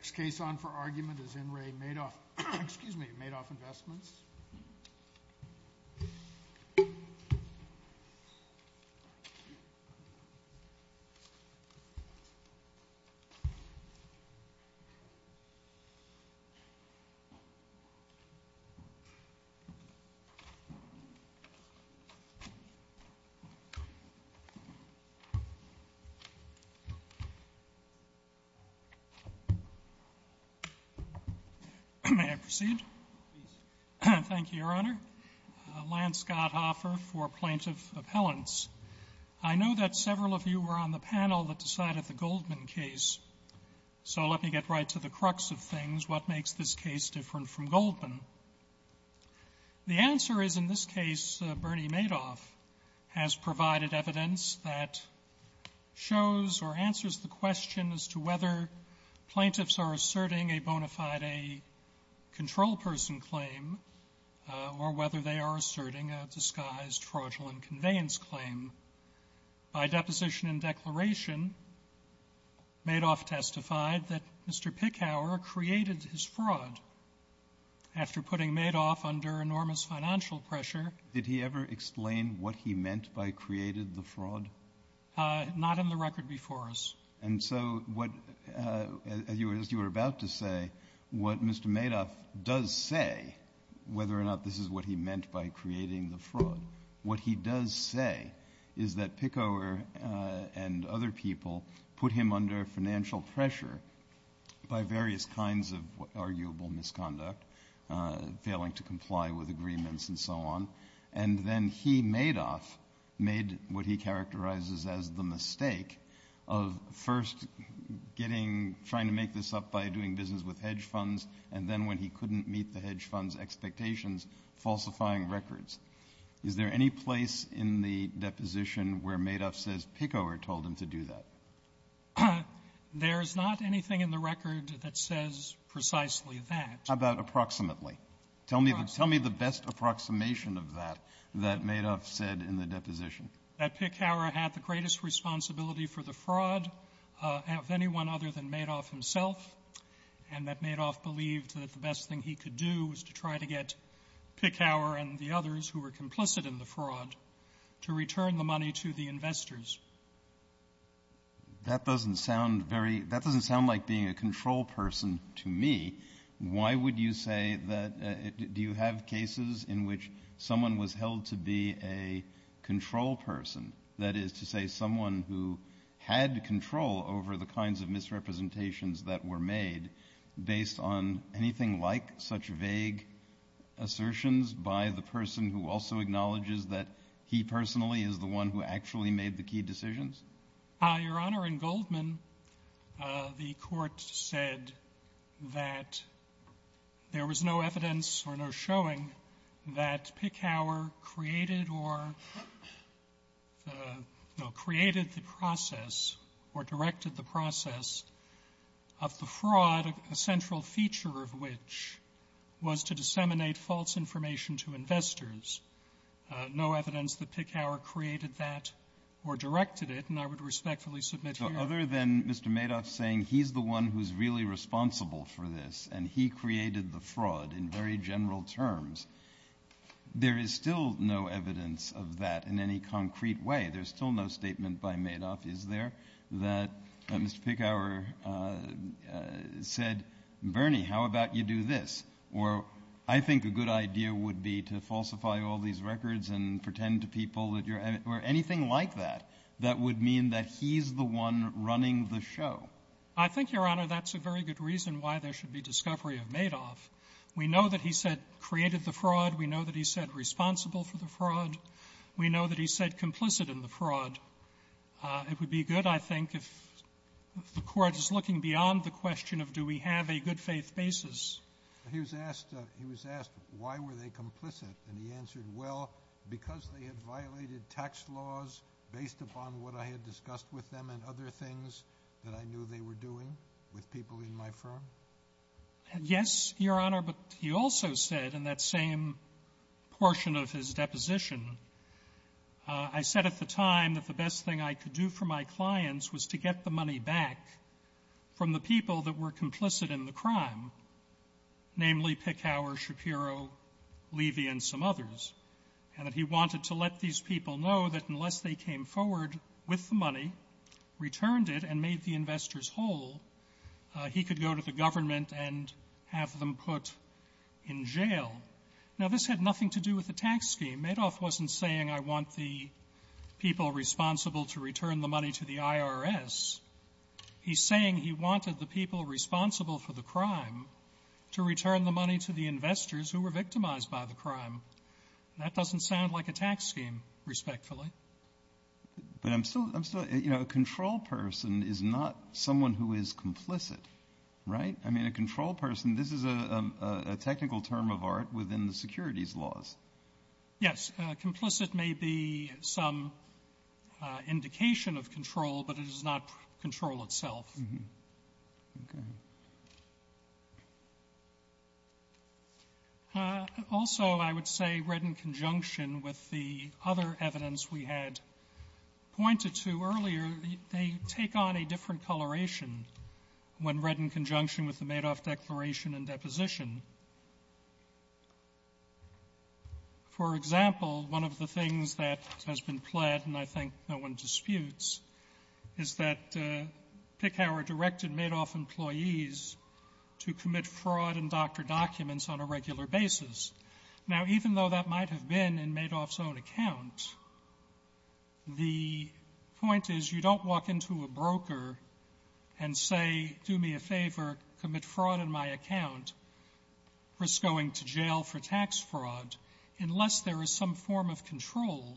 Next case on for argument is N. Ray Madoff, excuse me, Madoff Investments. May I proceed? Please. Thank you, Your Honor. Lance Gotthoffer for Plaintiff Appellants. I know that several of you were on the panel that decided the Goldman case. So let me get right to the crux of things. What makes this case different from Goldman? The answer is, in this case, Bernie Madoff has provided evidence that shows or answers the question as to whether plaintiffs are asserting a bona fide control person claim or whether they are asserting a disguised fraudulent conveyance claim. By deposition and declaration, Madoff testified that Mr. Pickower created his fraud. After putting Madoff under enormous financial pressure — Did he ever explain what he meant by created the fraud? Not in the record before us. And so what, as you were about to say, what Mr. Madoff does say, whether or not this is what he meant by creating the fraud, what he does say is that Pickower and other people put him under financial pressure by various kinds of arguable misconduct, failing to comply with agreements and so on, and then he, Madoff, made what he characterized as the mistake of first getting — trying to make this up by doing business with hedge funds, and then when he couldn't meet the hedge fund's expectations, falsifying records. Is there any place in the deposition where Madoff says Pickower told him to do that? There's not anything in the record that says precisely that. How about approximately? Tell me the best approximation of that, that Madoff said in the deposition. That Pickower had the greatest responsibility for the fraud of anyone other than Madoff himself, and that Madoff believed that the best thing he could do was to try to get Pickower and the others who were complicit in the fraud to return the money to the investors. That doesn't sound very — that doesn't sound like being a control person to me. Why would you say that — do you have cases in which someone was held to be a control person, that is to say someone who had control over the kinds of misrepresentations that were made based on anything like such vague assertions by the person who also acknowledges that he personally is the one who actually made the key decisions? Your Honor, in Goldman, the Court said that there was no evidence or no showing that Pickower created or — no, created the process or directed the process of the fraud, a central feature of which was to disseminate false information to investors. No evidence that Pickower created that or directed it, and I would respectfully submit here — But other than Mr. Madoff saying he's the one who's really responsible for this and he created the fraud in very general terms, there is still no evidence of that in any concrete way. There's still no statement by Madoff, is there, that Mr. Pickower said, Bernie, how about you do this? Or I think a good idea would be to falsify all these records and pretend to people that you're — or anything like that, that would mean that he's the one running the show. I think, Your Honor, that's a very good reason why there should be discovery of Madoff. We know that he said created the fraud. We know that he said responsible for the fraud. We know that he said complicit in the fraud. It would be good, I think, if the Court was looking beyond the question of do we have a good-faith basis. He was asked — he was asked why were they complicit, and he answered, well, because they had violated tax laws based upon what I had discussed with them and other things that I knew they were doing with people in my firm. Yes, Your Honor, but he also said in that same portion of his deposition, I said at the time that the best thing I could do for my clients was to get the money back from the people that were complicit in the crime, namely Pickhower, Shapiro, Levy, and some others, and that he wanted to let these people know that unless they came forward with the money, returned it, and made the investors whole, he could go to the government and have them put in jail. Now, this had nothing to do with the tax scheme. Madoff wasn't saying I want the people responsible to return the money to the IRS. He's saying he wanted the people responsible for the crime to return the money to the investors who were victimized by the crime. That doesn't sound like a tax scheme, respectfully. But I'm still — I'm still — you know, a control person is not someone who is complicit, right? I mean, a control person, this is a technical term of art within the securities laws. Yes. Complicit may be some indication of control, but it is not control itself. Okay. Also, I would say, read in conjunction with the other evidence we had pointed to and read in conjunction with the Madoff declaration and deposition, for example, one of the things that has been pled, and I think no one disputes, is that Pickhower directed Madoff employees to commit fraud in doctor documents on a regular basis. Now, even though that might have been in Madoff's own account, the point is you don't walk into a broker and say, do me a favor, commit fraud in my account, risk going to jail for tax fraud, unless there is some form of control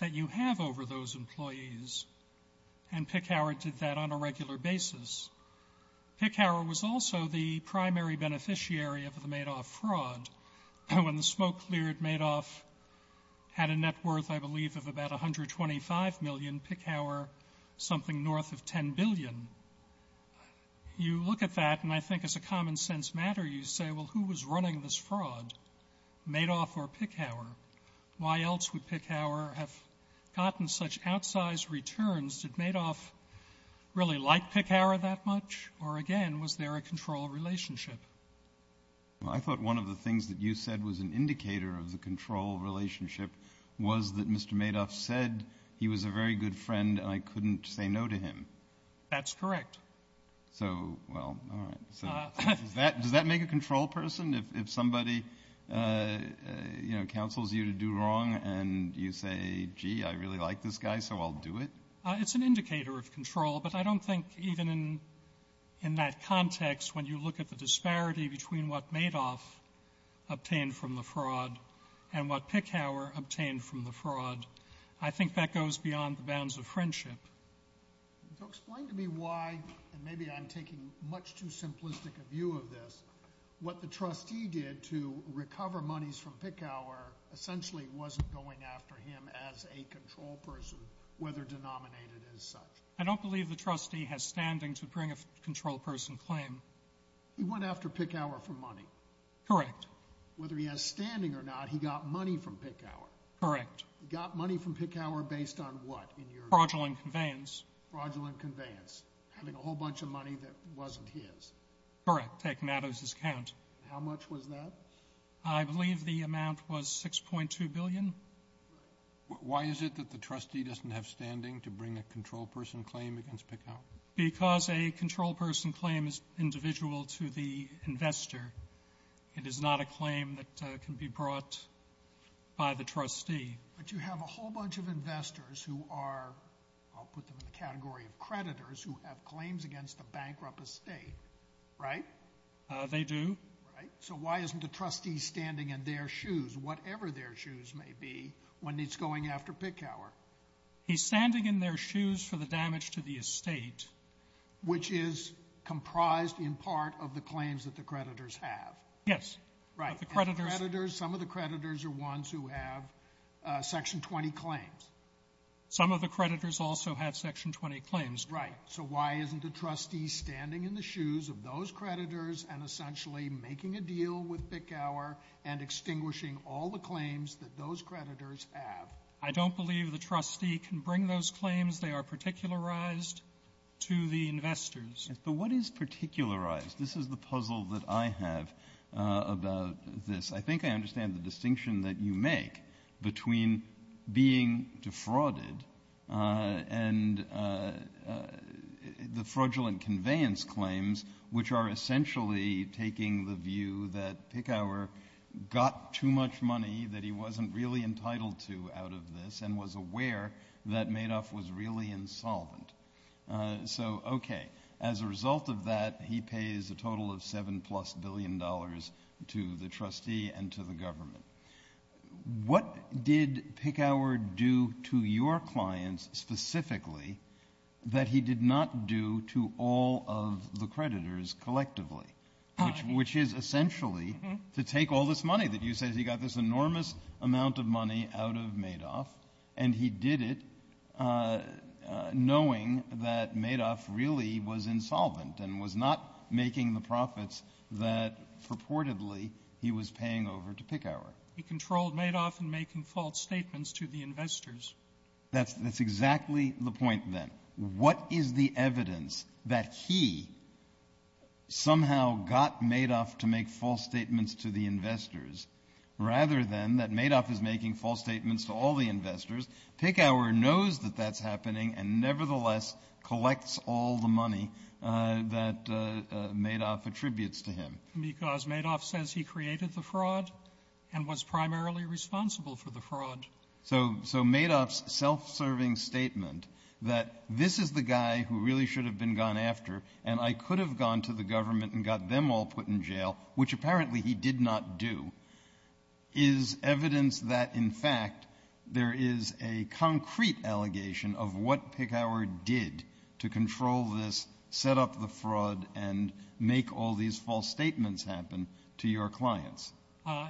that you have over those employees. And Pickhower did that on a regular basis. Pickhower was also the primary beneficiary of the Madoff fraud. When the smoke cleared, Madoff had a net worth, I believe, of about $125 million, Pickhower something north of $10 billion. You look at that, and I think as a common-sense matter, you say, well, who was running this fraud, Madoff or Pickhower? Why else would Pickhower have gotten such outsized returns? Did Madoff really like Pickhower that much, or, again, was there a control relationship? Well, I thought one of the things that you said was an indicator of the control relationship was that Mr. Madoff said he was a very good friend and I couldn't say no to him. That's correct. So, well, all right. So does that make a control person? If somebody, you know, counsels you to do wrong and you say, gee, I really like this guy, so I'll do it? It's an indicator of control, but I don't think even in that context, when you look at the disparity between what Madoff obtained from the fraud and what Pickhower obtained from the fraud, I think that goes beyond the bounds of friendship. So explain to me why, and maybe I'm taking much too simplistic a view of this, what the trustee did to recover monies from Pickhower essentially wasn't going after him as a control person, whether denominated as such. I don't believe the trustee has standing to bring a control person claim. He went after Pickhower for money. Correct. Whether he has standing or not, he got money from Pickhower. Correct. He got money from Pickhower based on what? Fraudulent conveyance. Fraudulent conveyance. Having a whole bunch of money that wasn't his. Correct. Taken out of his account. How much was that? I believe the amount was $6.2 billion. Why is it that the trustee doesn't have standing to bring a control person claim against Pickhower? Because a control person claim is individual to the investor. It is not a claim that can be brought by the trustee. But you have a whole bunch of investors who are, I'll put them in the category of creditors, who have claims against a bankrupt estate, right? They do. So why isn't the trustee standing in their shoes, whatever their shoes may be, when it's going after Pickhower? He's standing in their shoes for the damage to the estate. Which is comprised in part of the claims that the creditors have. Yes. Right. Some of the creditors are ones who have Section 20 claims. Some of the creditors also have Section 20 claims. Right. So why isn't the trustee standing in the shoes of those creditors and essentially making a deal with Pickhower and extinguishing all the claims that those creditors have? I don't believe the trustee can bring those claims. They are particularized to the investors. But what is particularized? This is the puzzle that I have about this. I think I understand the distinction that you make between being defrauded and the fraudulent conveyance claims, which are essentially taking the view that Pickhower got too much money that he wasn't really entitled to out of this and was aware that Madoff was really insolvent. So, okay. As a result of that, he pays a total of $7-plus billion to the trustee and to the government. What did Pickhower do to your clients specifically that he did not do to all of the creditors collectively, which is essentially to take all this money that you said he got this enormous amount of money out of Madoff, and he did it knowing that Madoff really was insolvent and was not making the profits that, purportedly, he was paying over to Pickhower? He controlled Madoff in making false statements to the investors. That's exactly the point, then. What is the evidence that he somehow got Madoff to make false statements to the investors rather than that Madoff is making false statements to all the investors? Pickhower knows that that's happening and nevertheless collects all the money that Madoff attributes to him. Because Madoff says he created the fraud and was primarily responsible for the fraud. So Madoff's self-serving statement that this is the guy who really should have been gone after and I could have gone to the government and got them all put in jail, which apparently he did not do, is evidence that, in fact, there is a concrete allegation of what Pickhower did to control this, set up the fraud, and make all these false statements happen to your clients.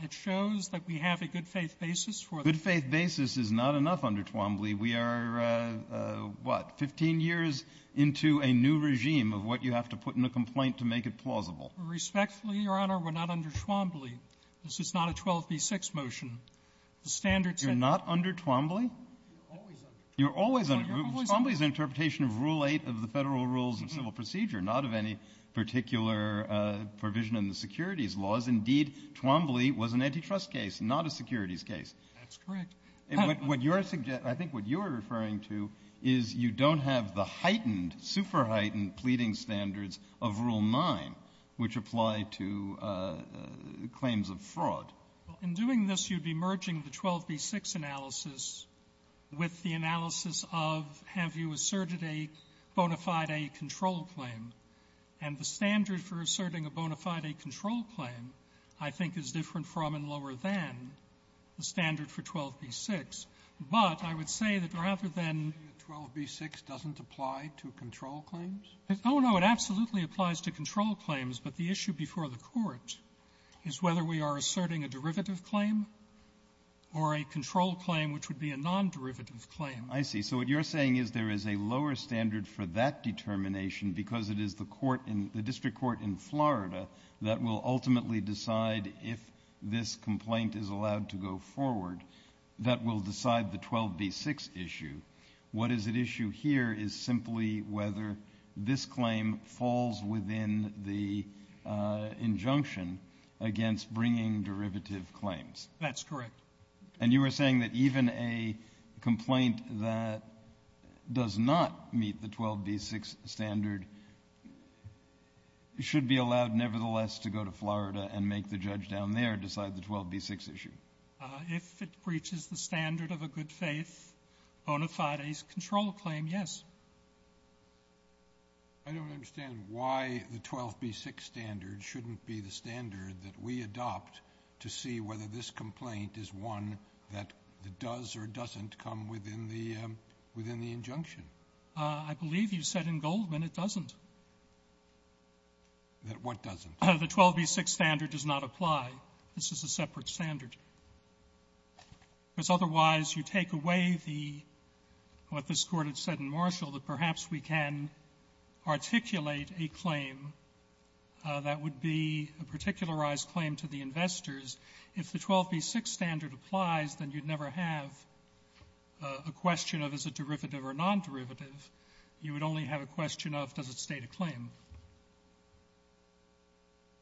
It shows that we have a good-faith basis for the law. Good-faith basis is not enough under Twombly. We are, what, 15 years into a new regime of what you have to put in a complaint to make it plausible. Respectfully, Your Honor, we're not under Twombly. This is not a 12b-6 motion. The standards that ---- You're not under Twombly? You're always under Twombly. Twombly is an interpretation of Rule 8 of the Federal Rules of Civil Procedure, not of any particular provision in the securities laws. Indeed, Twombly was an antitrust case, not a securities case. That's correct. I think what you are referring to is you don't have the heightened, super-heightened pleading standards of Rule 9, which apply to claims of fraud. In doing this, you'd be merging the 12b-6 analysis with the analysis of have you asserted a bona fide A control claim? And the standard for asserting a bona fide A control claim, I think, is different from and lower than the standard for 12b-6. But I would say that rather than ---- 12b-6 doesn't apply to control claims? Oh, no. It absolutely applies to control claims. But the issue before the Court is whether we are asserting a derivative claim or a control claim which would be a non-derivative claim. I see. So what you're saying is there is a lower standard for that determination because it is the court in the district court in Florida that will ultimately decide if this complaint is allowed to go forward, that will decide the 12b-6 issue. What is at issue here is simply whether this claim falls within the injunction against bringing derivative claims. That's correct. And you were saying that even a complaint that does not meet the 12b-6 standard should be allowed nevertheless to go to Florida and make the judge down there decide the 12b-6 issue. If it breaches the standard of a good-faith bona fides control claim, yes. I don't understand why the 12b-6 standard shouldn't be the standard that we adopt to see whether this complaint is one that does or doesn't come within the injunction. I believe you said in Goldman it doesn't. What doesn't? The 12b-6 standard does not apply. This is a separate standard. Because otherwise you take away the what this Court had said in Marshall that perhaps we can articulate a claim that would be a particularized claim to the investors. If the 12b-6 standard applies, then you'd never have a question of is it derivative or non-derivative. You would only have a question of does it state a claim.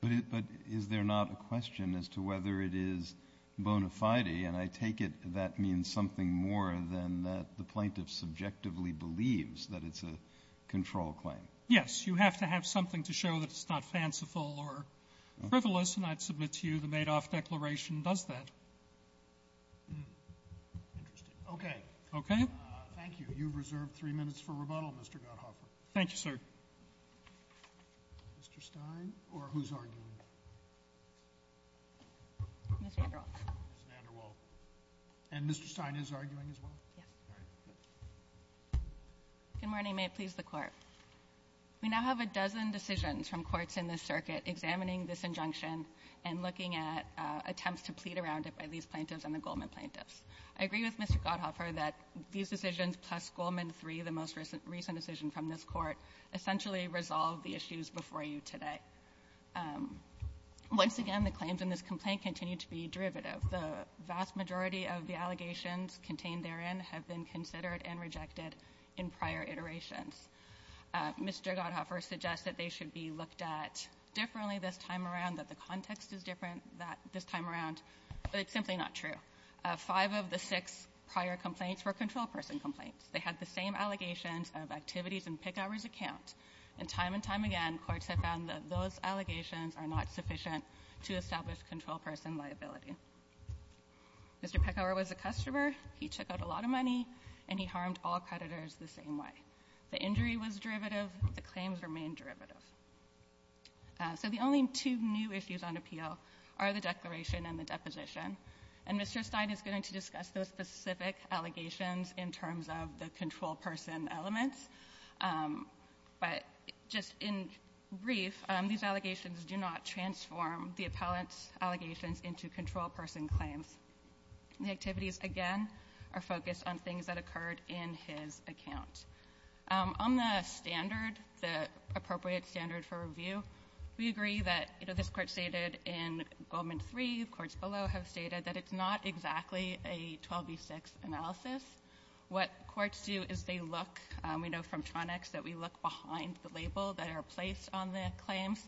But is there not a question as to whether it is bona fide, and I take it that means something more than that the plaintiff subjectively believes that it's a control claim. Yes. You have to have something to show that it's not fanciful or frivolous, and I'd submit to you the Madoff declaration does that. Okay. Okay. Thank you. You've reserved three minutes for rebuttal, Mr. Gotthoffer. Thank you, sir. Mr. Stein or who's arguing? Ms. VanderWaal. Ms. VanderWaal. And Mr. Stein is arguing as well? Yes. All right. Good morning. May it please the Court. We now have a dozen decisions from courts in this circuit examining this injunction and looking at attempts to plead around it by these plaintiffs and the Goldman plaintiffs. I agree with Mr. Gotthoffer that these decisions plus Goldman III, the most recent decision from this Court, essentially resolve the issues before you today. Once again, the claims in this complaint continue to be derivative. The vast majority of the allegations contained therein have been considered and rejected in prior iterations. Mr. Gotthoffer suggests that they should be looked at differently this time around, that the context is different this time around, but it's simply not true. Five of the six prior complaints were control person complaints. They had the same allegations of activities in Pickauer's account. And time and time again, courts have found that those allegations are not sufficient to establish control person liability. Mr. Pickauer was a customer. He took out a lot of money, and he harmed all creditors the same way. The injury was derivative. The claims remain derivative. So the only two new issues on appeal are the declaration and the deposition. And Mr. Stein is going to discuss those specific allegations in terms of the control person elements. But just in brief, these allegations do not transform the appellant's allegations into control person claims. The activities, again, are focused on things that occurred in his account. On the standard, the appropriate standard for review, we agree that, you know, this below have stated that it's not exactly a 12b-6 analysis. What courts do is they look. We know from Tronex that we look behind the label that are placed on the claims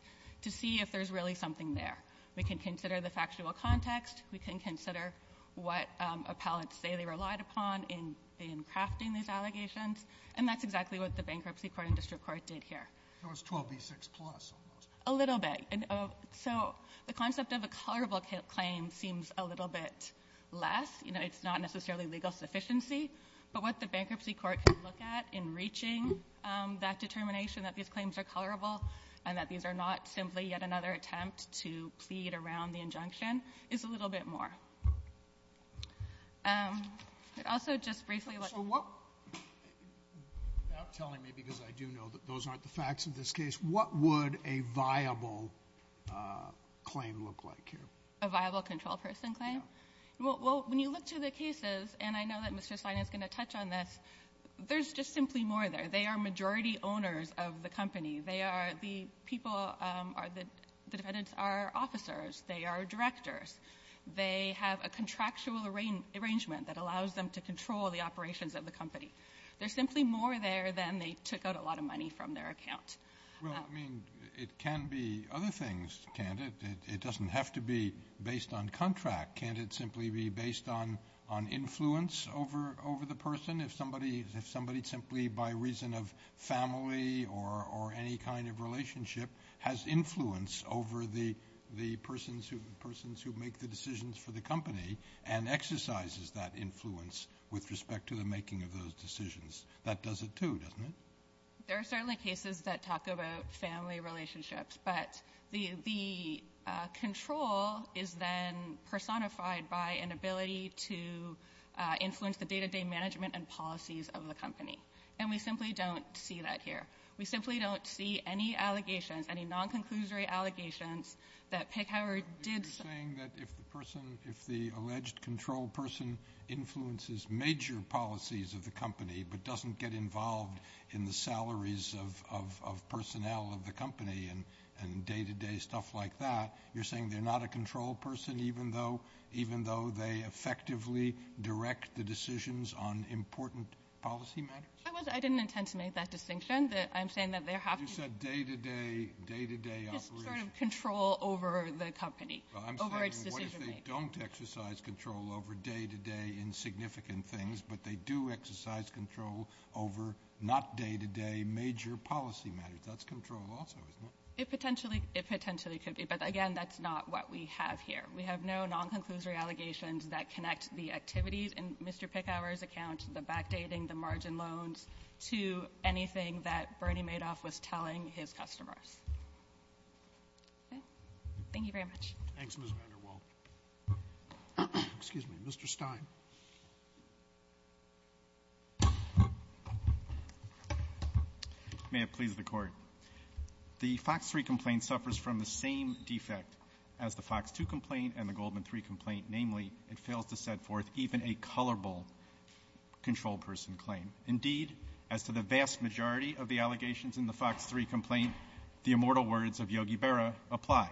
to see if there's really something there. We can consider the factual context. We can consider what appellants say they relied upon in crafting these allegations, and that's exactly what the Bankruptcy Court and district court did here. Sotomayor's 12b-6 plus almost. A little bit. So the concept of a colorable claim seems a little bit less. You know, it's not necessarily legal sufficiency. But what the Bankruptcy Court can look at in reaching that determination that these claims are colorable and that these are not simply yet another attempt to plead around the injunction is a little bit more. Also, just briefly. Without telling me, because I do know that those aren't the facts of this case, what would a viable claim look like here? A viable control person claim? Yeah. Well, when you look to the cases, and I know that Mr. Sina is going to touch on this, there's just simply more there. They are majority owners of the company. They are the people that the defendants are officers. They are directors. They have a contractual arrangement that allows them to control the operations of the company. There's simply more there than they took out a lot of money from their account. Well, I mean, it can be other things, can't it? It doesn't have to be based on contract. Can't it simply be based on influence over the person? If somebody simply, by reason of family or any kind of relationship, has influence over the persons who make the decisions for the company and exercises that influence with respect to the making of those decisions, that does it too, doesn't it? There are certainly cases that talk about family relationships, but the control is then personified by an ability to influence the day-to-day management and policies of the company. And we simply don't see that here. We simply don't see any allegations, any non-conclusory allegations that Pickhower did something. You're saying that if the alleged control person influences major policies of the company but doesn't get involved in the salaries of personnel of the company and day-to-day stuff like that, you're saying they're not a control person even though they effectively direct the decisions on important policy matters? I didn't intend to make that distinction. I'm saying that they have to be just sort of control over the company, over its decision-making. Well, I'm saying what if they don't exercise control over day-to-day insignificant things, but they do exercise control over not day-to-day major policy matters? That's control also, isn't it? It potentially could be. But, again, that's not what we have here. We have no non-conclusory allegations that connect the activities in Mr. Pickhower's account, the backdating, the margin loans, to anything that Bernie Madoff was telling his customers. Okay? Thank you very much. Thanks, Ms. VanderWaal. Excuse me. Mr. Stein. May it please the Court. The Fox 3 complaint suffers from the same defect as the Fox 2 complaint and the Goldman 3 complaint. Namely, it fails to set forth even a colorful control person claim. Indeed, as to the vast majority of the allegations in the Fox 3 complaint, the immortal words of Yogi Berra apply.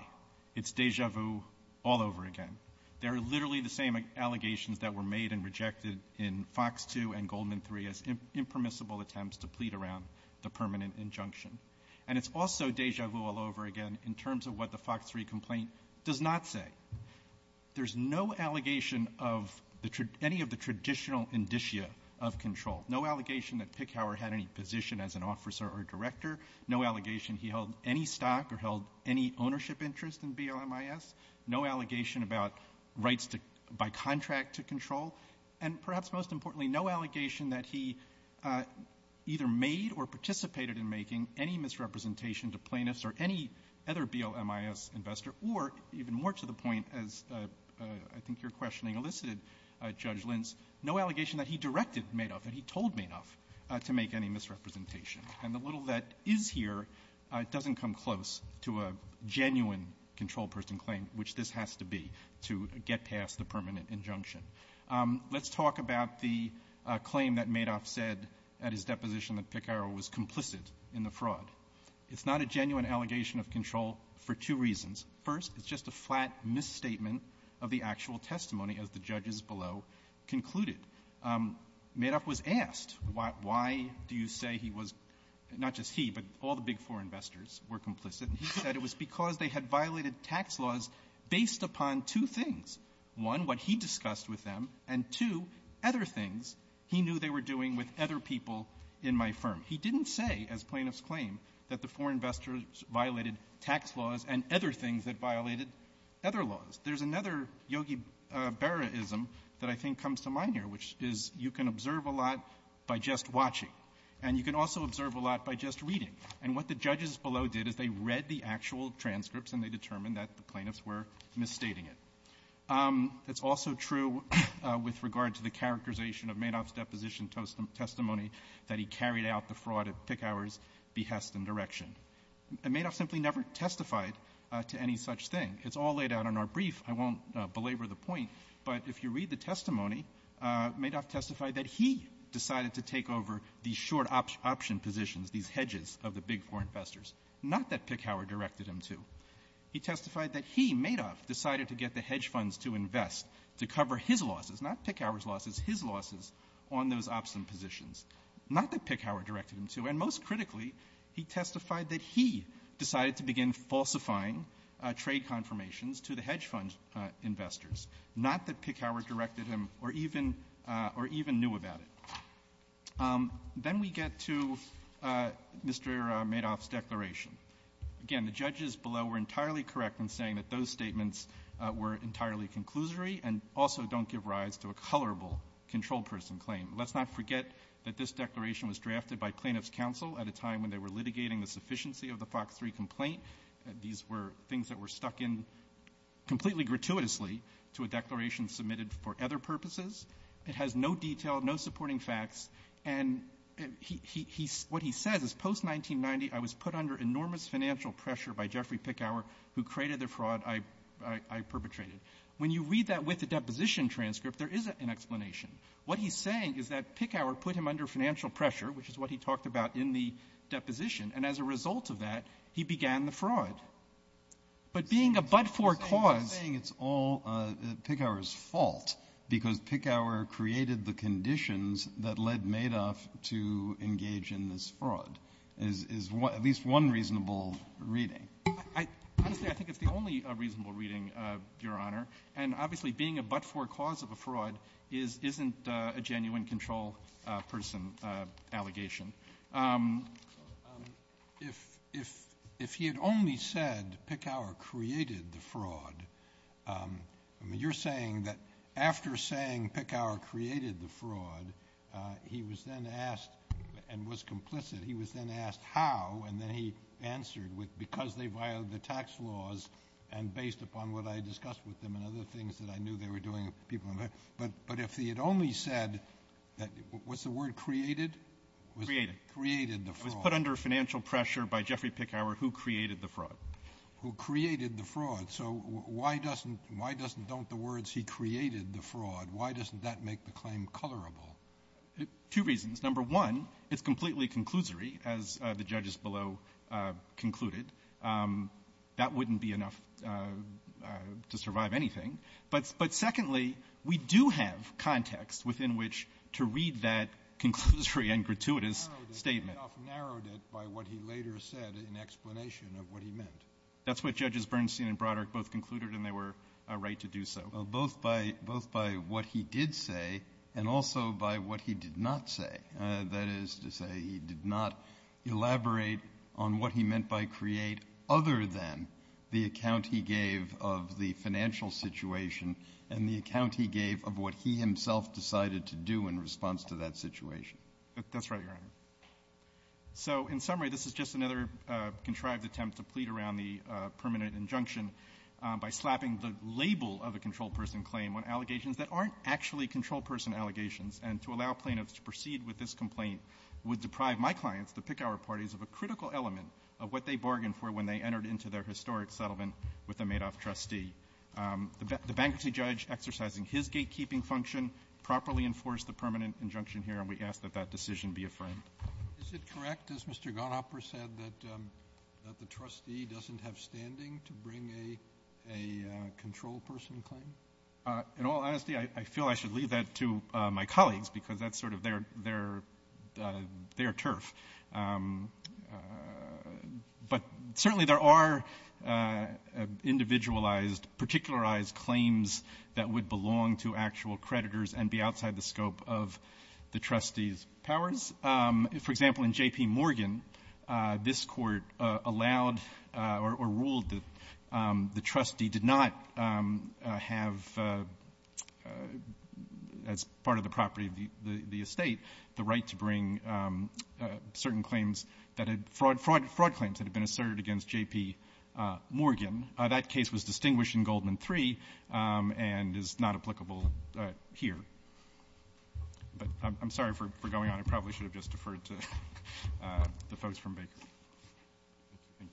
It's déjà vu all over again. They're literally the same allegations that were made and rejected in Fox 2 and Goldman 3 as impermissible attempts to plead around the permanent injunction. And it's also déjà vu all over again in terms of what the Fox 3 complaint does not say. There's no allegation of any of the traditional indicia of control. No allegation that Pickhower had any position as an officer or director. No allegation he held any stock or held any ownership interest in BLMIS. No allegation about rights to buy contract to control. And perhaps most importantly, no allegation that he either made or participated in making any misrepresentation to plaintiffs or any other BLMIS investor, or even more to the point, as I think your questioning elicited, Judge Lentz, no allegation that he directed Madoff, that he told Madoff, to make any misrepresentation. And the little that is here doesn't come close to a genuine control person claim, which this has to be, to get past the permanent injunction. Let's talk about the claim that Madoff said at his deposition that Pickhower was complicit in the fraud. It's not a genuine allegation of control for two reasons. First, it's just a flat misstatement of the actual testimony, as the judges below concluded. Madoff was asked, why do you say he was, not just he, but all the big foreign investors were complicit, and he said it was because they had violated tax laws based upon two things. One, what he discussed with them, and two, other things he knew they were doing with other people in my firm. He didn't say, as plaintiffs claim, that the foreign investors violated tax laws and other things that violated other laws. There's another Yogi Berra-ism that I think comes to mind here, which is you can observe a lot by just watching, and you can also observe a lot by just reading. And what the judges below did is they read the actual transcripts, and they determined that the plaintiffs were misstating it. It's also true with regard to the characterization of Madoff's deposition testimony that he carried out the fraud at Pickhower's behest and direction. And Madoff simply never testified to any such thing. It's all laid out in our brief. I won't belabor the point, but if you read the testimony, Madoff testified that he decided to take over the short option positions, these hedges of the big foreign investors, not that Pickhower directed him to. He testified that he, Madoff, decided to get the hedge funds to invest to cover his losses, not Pickhower's losses, his losses on those option positions, not that Pickhower directed him to. And most critically, he testified that he decided to begin falsifying trade confirmations to the hedge fund investors, not that Pickhower directed him or even knew about it. Then we get to Mr. Madoff's declaration. Again, the judges below were entirely correct in saying that those statements were entirely conclusory and also don't give rise to a colorable controlled person claim. Let's not forget that this declaration was drafted by plaintiff's counsel at a time when they were litigating the sufficiency of the Fox 3 complaint. These were things that were stuck in completely gratuitously to a declaration submitted for other purposes. It has no detail, no supporting facts. And what he says is, post-1990, I was put under enormous financial pressure by Jeffrey Pickhower, who created the fraud I perpetrated. When you read that with the deposition transcript, there is an explanation. What he's saying is that Pickhower put him under financial pressure, which is what he talked about in the deposition, and as a result of that, he began the fraud. But being a but-for cause --" Kennedy, saying it's all Pickhower's fault because Pickhower created the conditions that led Madoff to engage in this fraud is at least one reasonable reading. Honestly, I think it's the only reasonable reading, Your Honor. And obviously, being a but-for cause of a fraud isn't a genuine control person allegation. If he had only said Pickhower created the fraud, I mean, you're saying that after saying Pickhower created the fraud, he was then asked and was complicit, he was then asked how, and then he answered with because they violated the tax laws and based upon what I discussed with them and other things that I knew they were doing. But if he had only said that, was the word created? Created. Created the fraud. It was put under financial pressure by Jeffrey Pickhower, who created the fraud. Who created the fraud. So why doesn't don't the words he created the fraud, why doesn't that make the claim colorable? Two reasons. Number one, it's completely conclusory, as the judges below concluded. That wouldn't be enough to survive anything. But secondly, we do have context within which to read that conclusory and gratuitous statement. Kennedy. Madoff narrowed it by what he later said in explanation of what he meant. That's what Judges Bernstein and Broderick both concluded, and they were right to do so. Well, both by what he did say and also by what he did not say. That is to say, he did not elaborate on what he meant by create other than the account he gave of the financial situation and the account he gave of what he himself decided to do in response to that situation. That's right, Your Honor. So in summary, this is just another contrived attempt to plead around the permanent injunction by slapping the label of a controlled person claim on allegations that aren't actually controlled person allegations, and to allow plaintiffs to proceed with this complaint would deprive my clients, the Pickauer parties, of a critical element of what they bargained for when they entered into their historic settlement with the Madoff trustee. The bankruptcy judge exercising his gatekeeping function properly enforced the permanent injunction here, and we ask that that decision be affirmed. Is it correct, as Mr. Gonehopper said, that the trustee doesn't have standing to bring a controlled person claim? In all honesty, I feel I should leave that to my colleagues, because that's sort of their turf. But certainly there are individualized, particularized claims that would belong to actual creditors and be outside the scope of the trustee's powers. For example, in J.P. Morgan, this Court allowed or ruled that the trustee did not have as part of the property of the estate the right to bring certain claims that had fraud claims that had been asserted against J.P. Morgan. That case was distinguished in Goldman III and is not applicable here. But I'm sorry for going on. I probably should have just deferred to the folks from Baker. Thank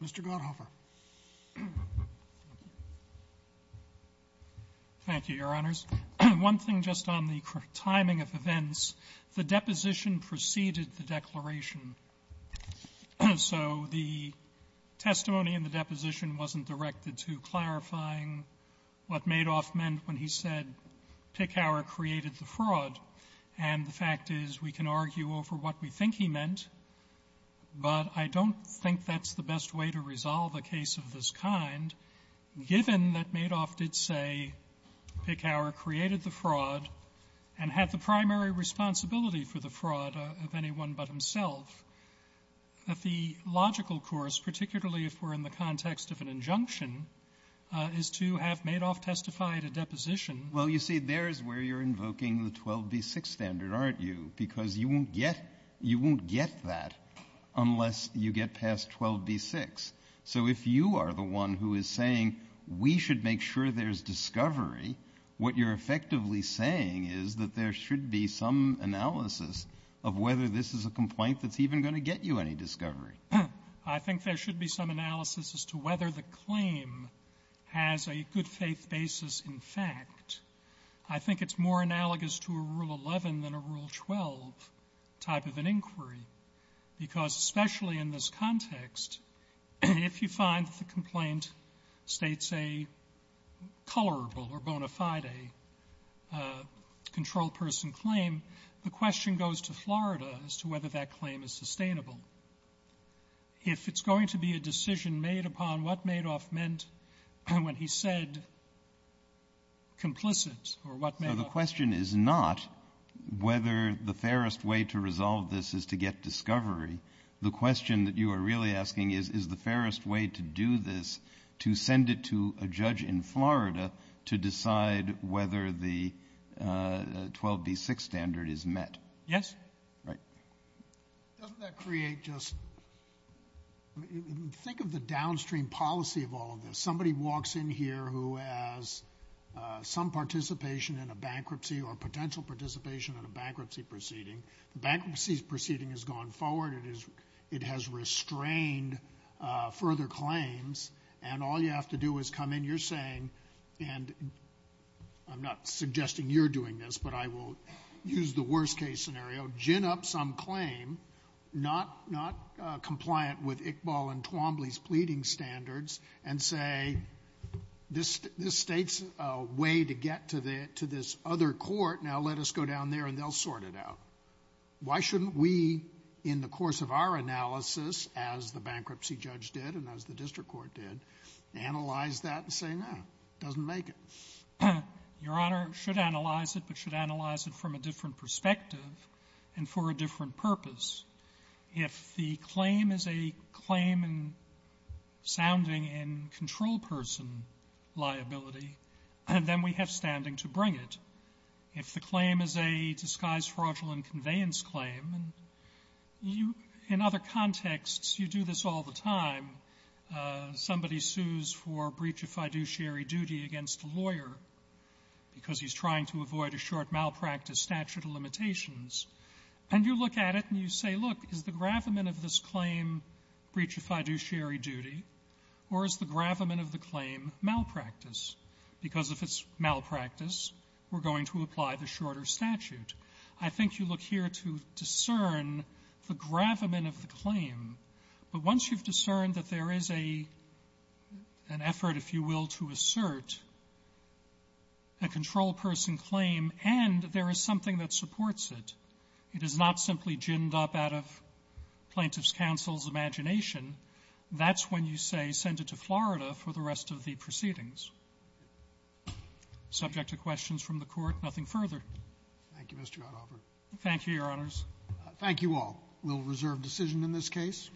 you. Mr. Gonehopper. Thank you, Your Honors. One thing just on the timing of events, the deposition preceded the declaration. So the testimony in the deposition wasn't directed to clarifying what Madoff meant when he said, Pickhower created the fraud. And the fact is, we can argue over what we think he meant, but I don't think that's the best way to resolve a case of this kind, given that Madoff did say, Pickhower created the fraud and had the primary responsibility for the fraud of anyone but himself. The logical course, particularly if we're in the context of an injunction, is to have Madoff testify at a deposition. Well, you see, there's where you're invoking the 12b-6 standard, aren't you? Because you won't get that unless you get past 12b-6. So if you are the one who is saying, we should make sure there's discovery, what you're effectively saying is that there should be some analysis of whether this is a complaint that's even going to get you any discovery. I think there should be some analysis as to whether the claim has a good-faith basis in fact. I think it's more analogous to a Rule 11 than a Rule 12 type of an inquiry, because especially in this context, if you find that the complaint states a colorable or bona fide controlled person claim, the question goes to Florida as to whether that claim is sustainable. If it's going to be a decision made upon what Madoff meant when he said complicit or what Madoff meant. So the question is not whether the fairest way to resolve this is to get discovery. The question that you are really asking is, is the fairest way to do this, to send it to a judge in Florida to decide whether the 12b-6 standard is met? Yes. Right. Doesn't that create just, think of the downstream policy of all of this. Somebody walks in here who has some participation in a bankruptcy or potential participation in a bankruptcy proceeding. The bankruptcy proceeding has gone forward. It has restrained further claims. And all you have to do is come in. You're saying, and I'm not suggesting you're doing this, but I will use the worst case scenario, gin up some claim not compliant with Iqbal and Twombly's pleading standards and say, this states a way to get to this other court. Now let us go down there and they'll sort it out. Why shouldn't we, in the course of our analysis, as the bankruptcy judge did and as the district court did, analyze that and say, no, it doesn't make it? Your Honor, we should analyze it, but we should analyze it from a different perspective and for a different purpose. If the claim is a claim sounding in control person liability, then we have standing to bring it. If the claim is a disguised fraudulent conveyance claim, and in other contexts you do this all the time, somebody sues for breach of fiduciary duty against a lawyer because he's trying to avoid a short malpractice statute of limitations, and you look at it and you say, look, is the gravamen of this claim breach of fiduciary duty, or is the gravamen of the claim malpractice? Because if it's malpractice, we're going to apply the shorter statute. I think you look here to discern the gravamen of the claim, but once you've discerned that there is a – an effort, if you will, to assert a control person claim and there is something that supports it, it is not simply ginned up out of plaintiff's counsel's imagination, that's when you say send it to Florida for the rest of the proceedings. Subject to questions from the Court. Nothing further. Thank you, Mr. Adhofer. Thank you, Your Honors. Thank you all. We'll reserve decision in this case.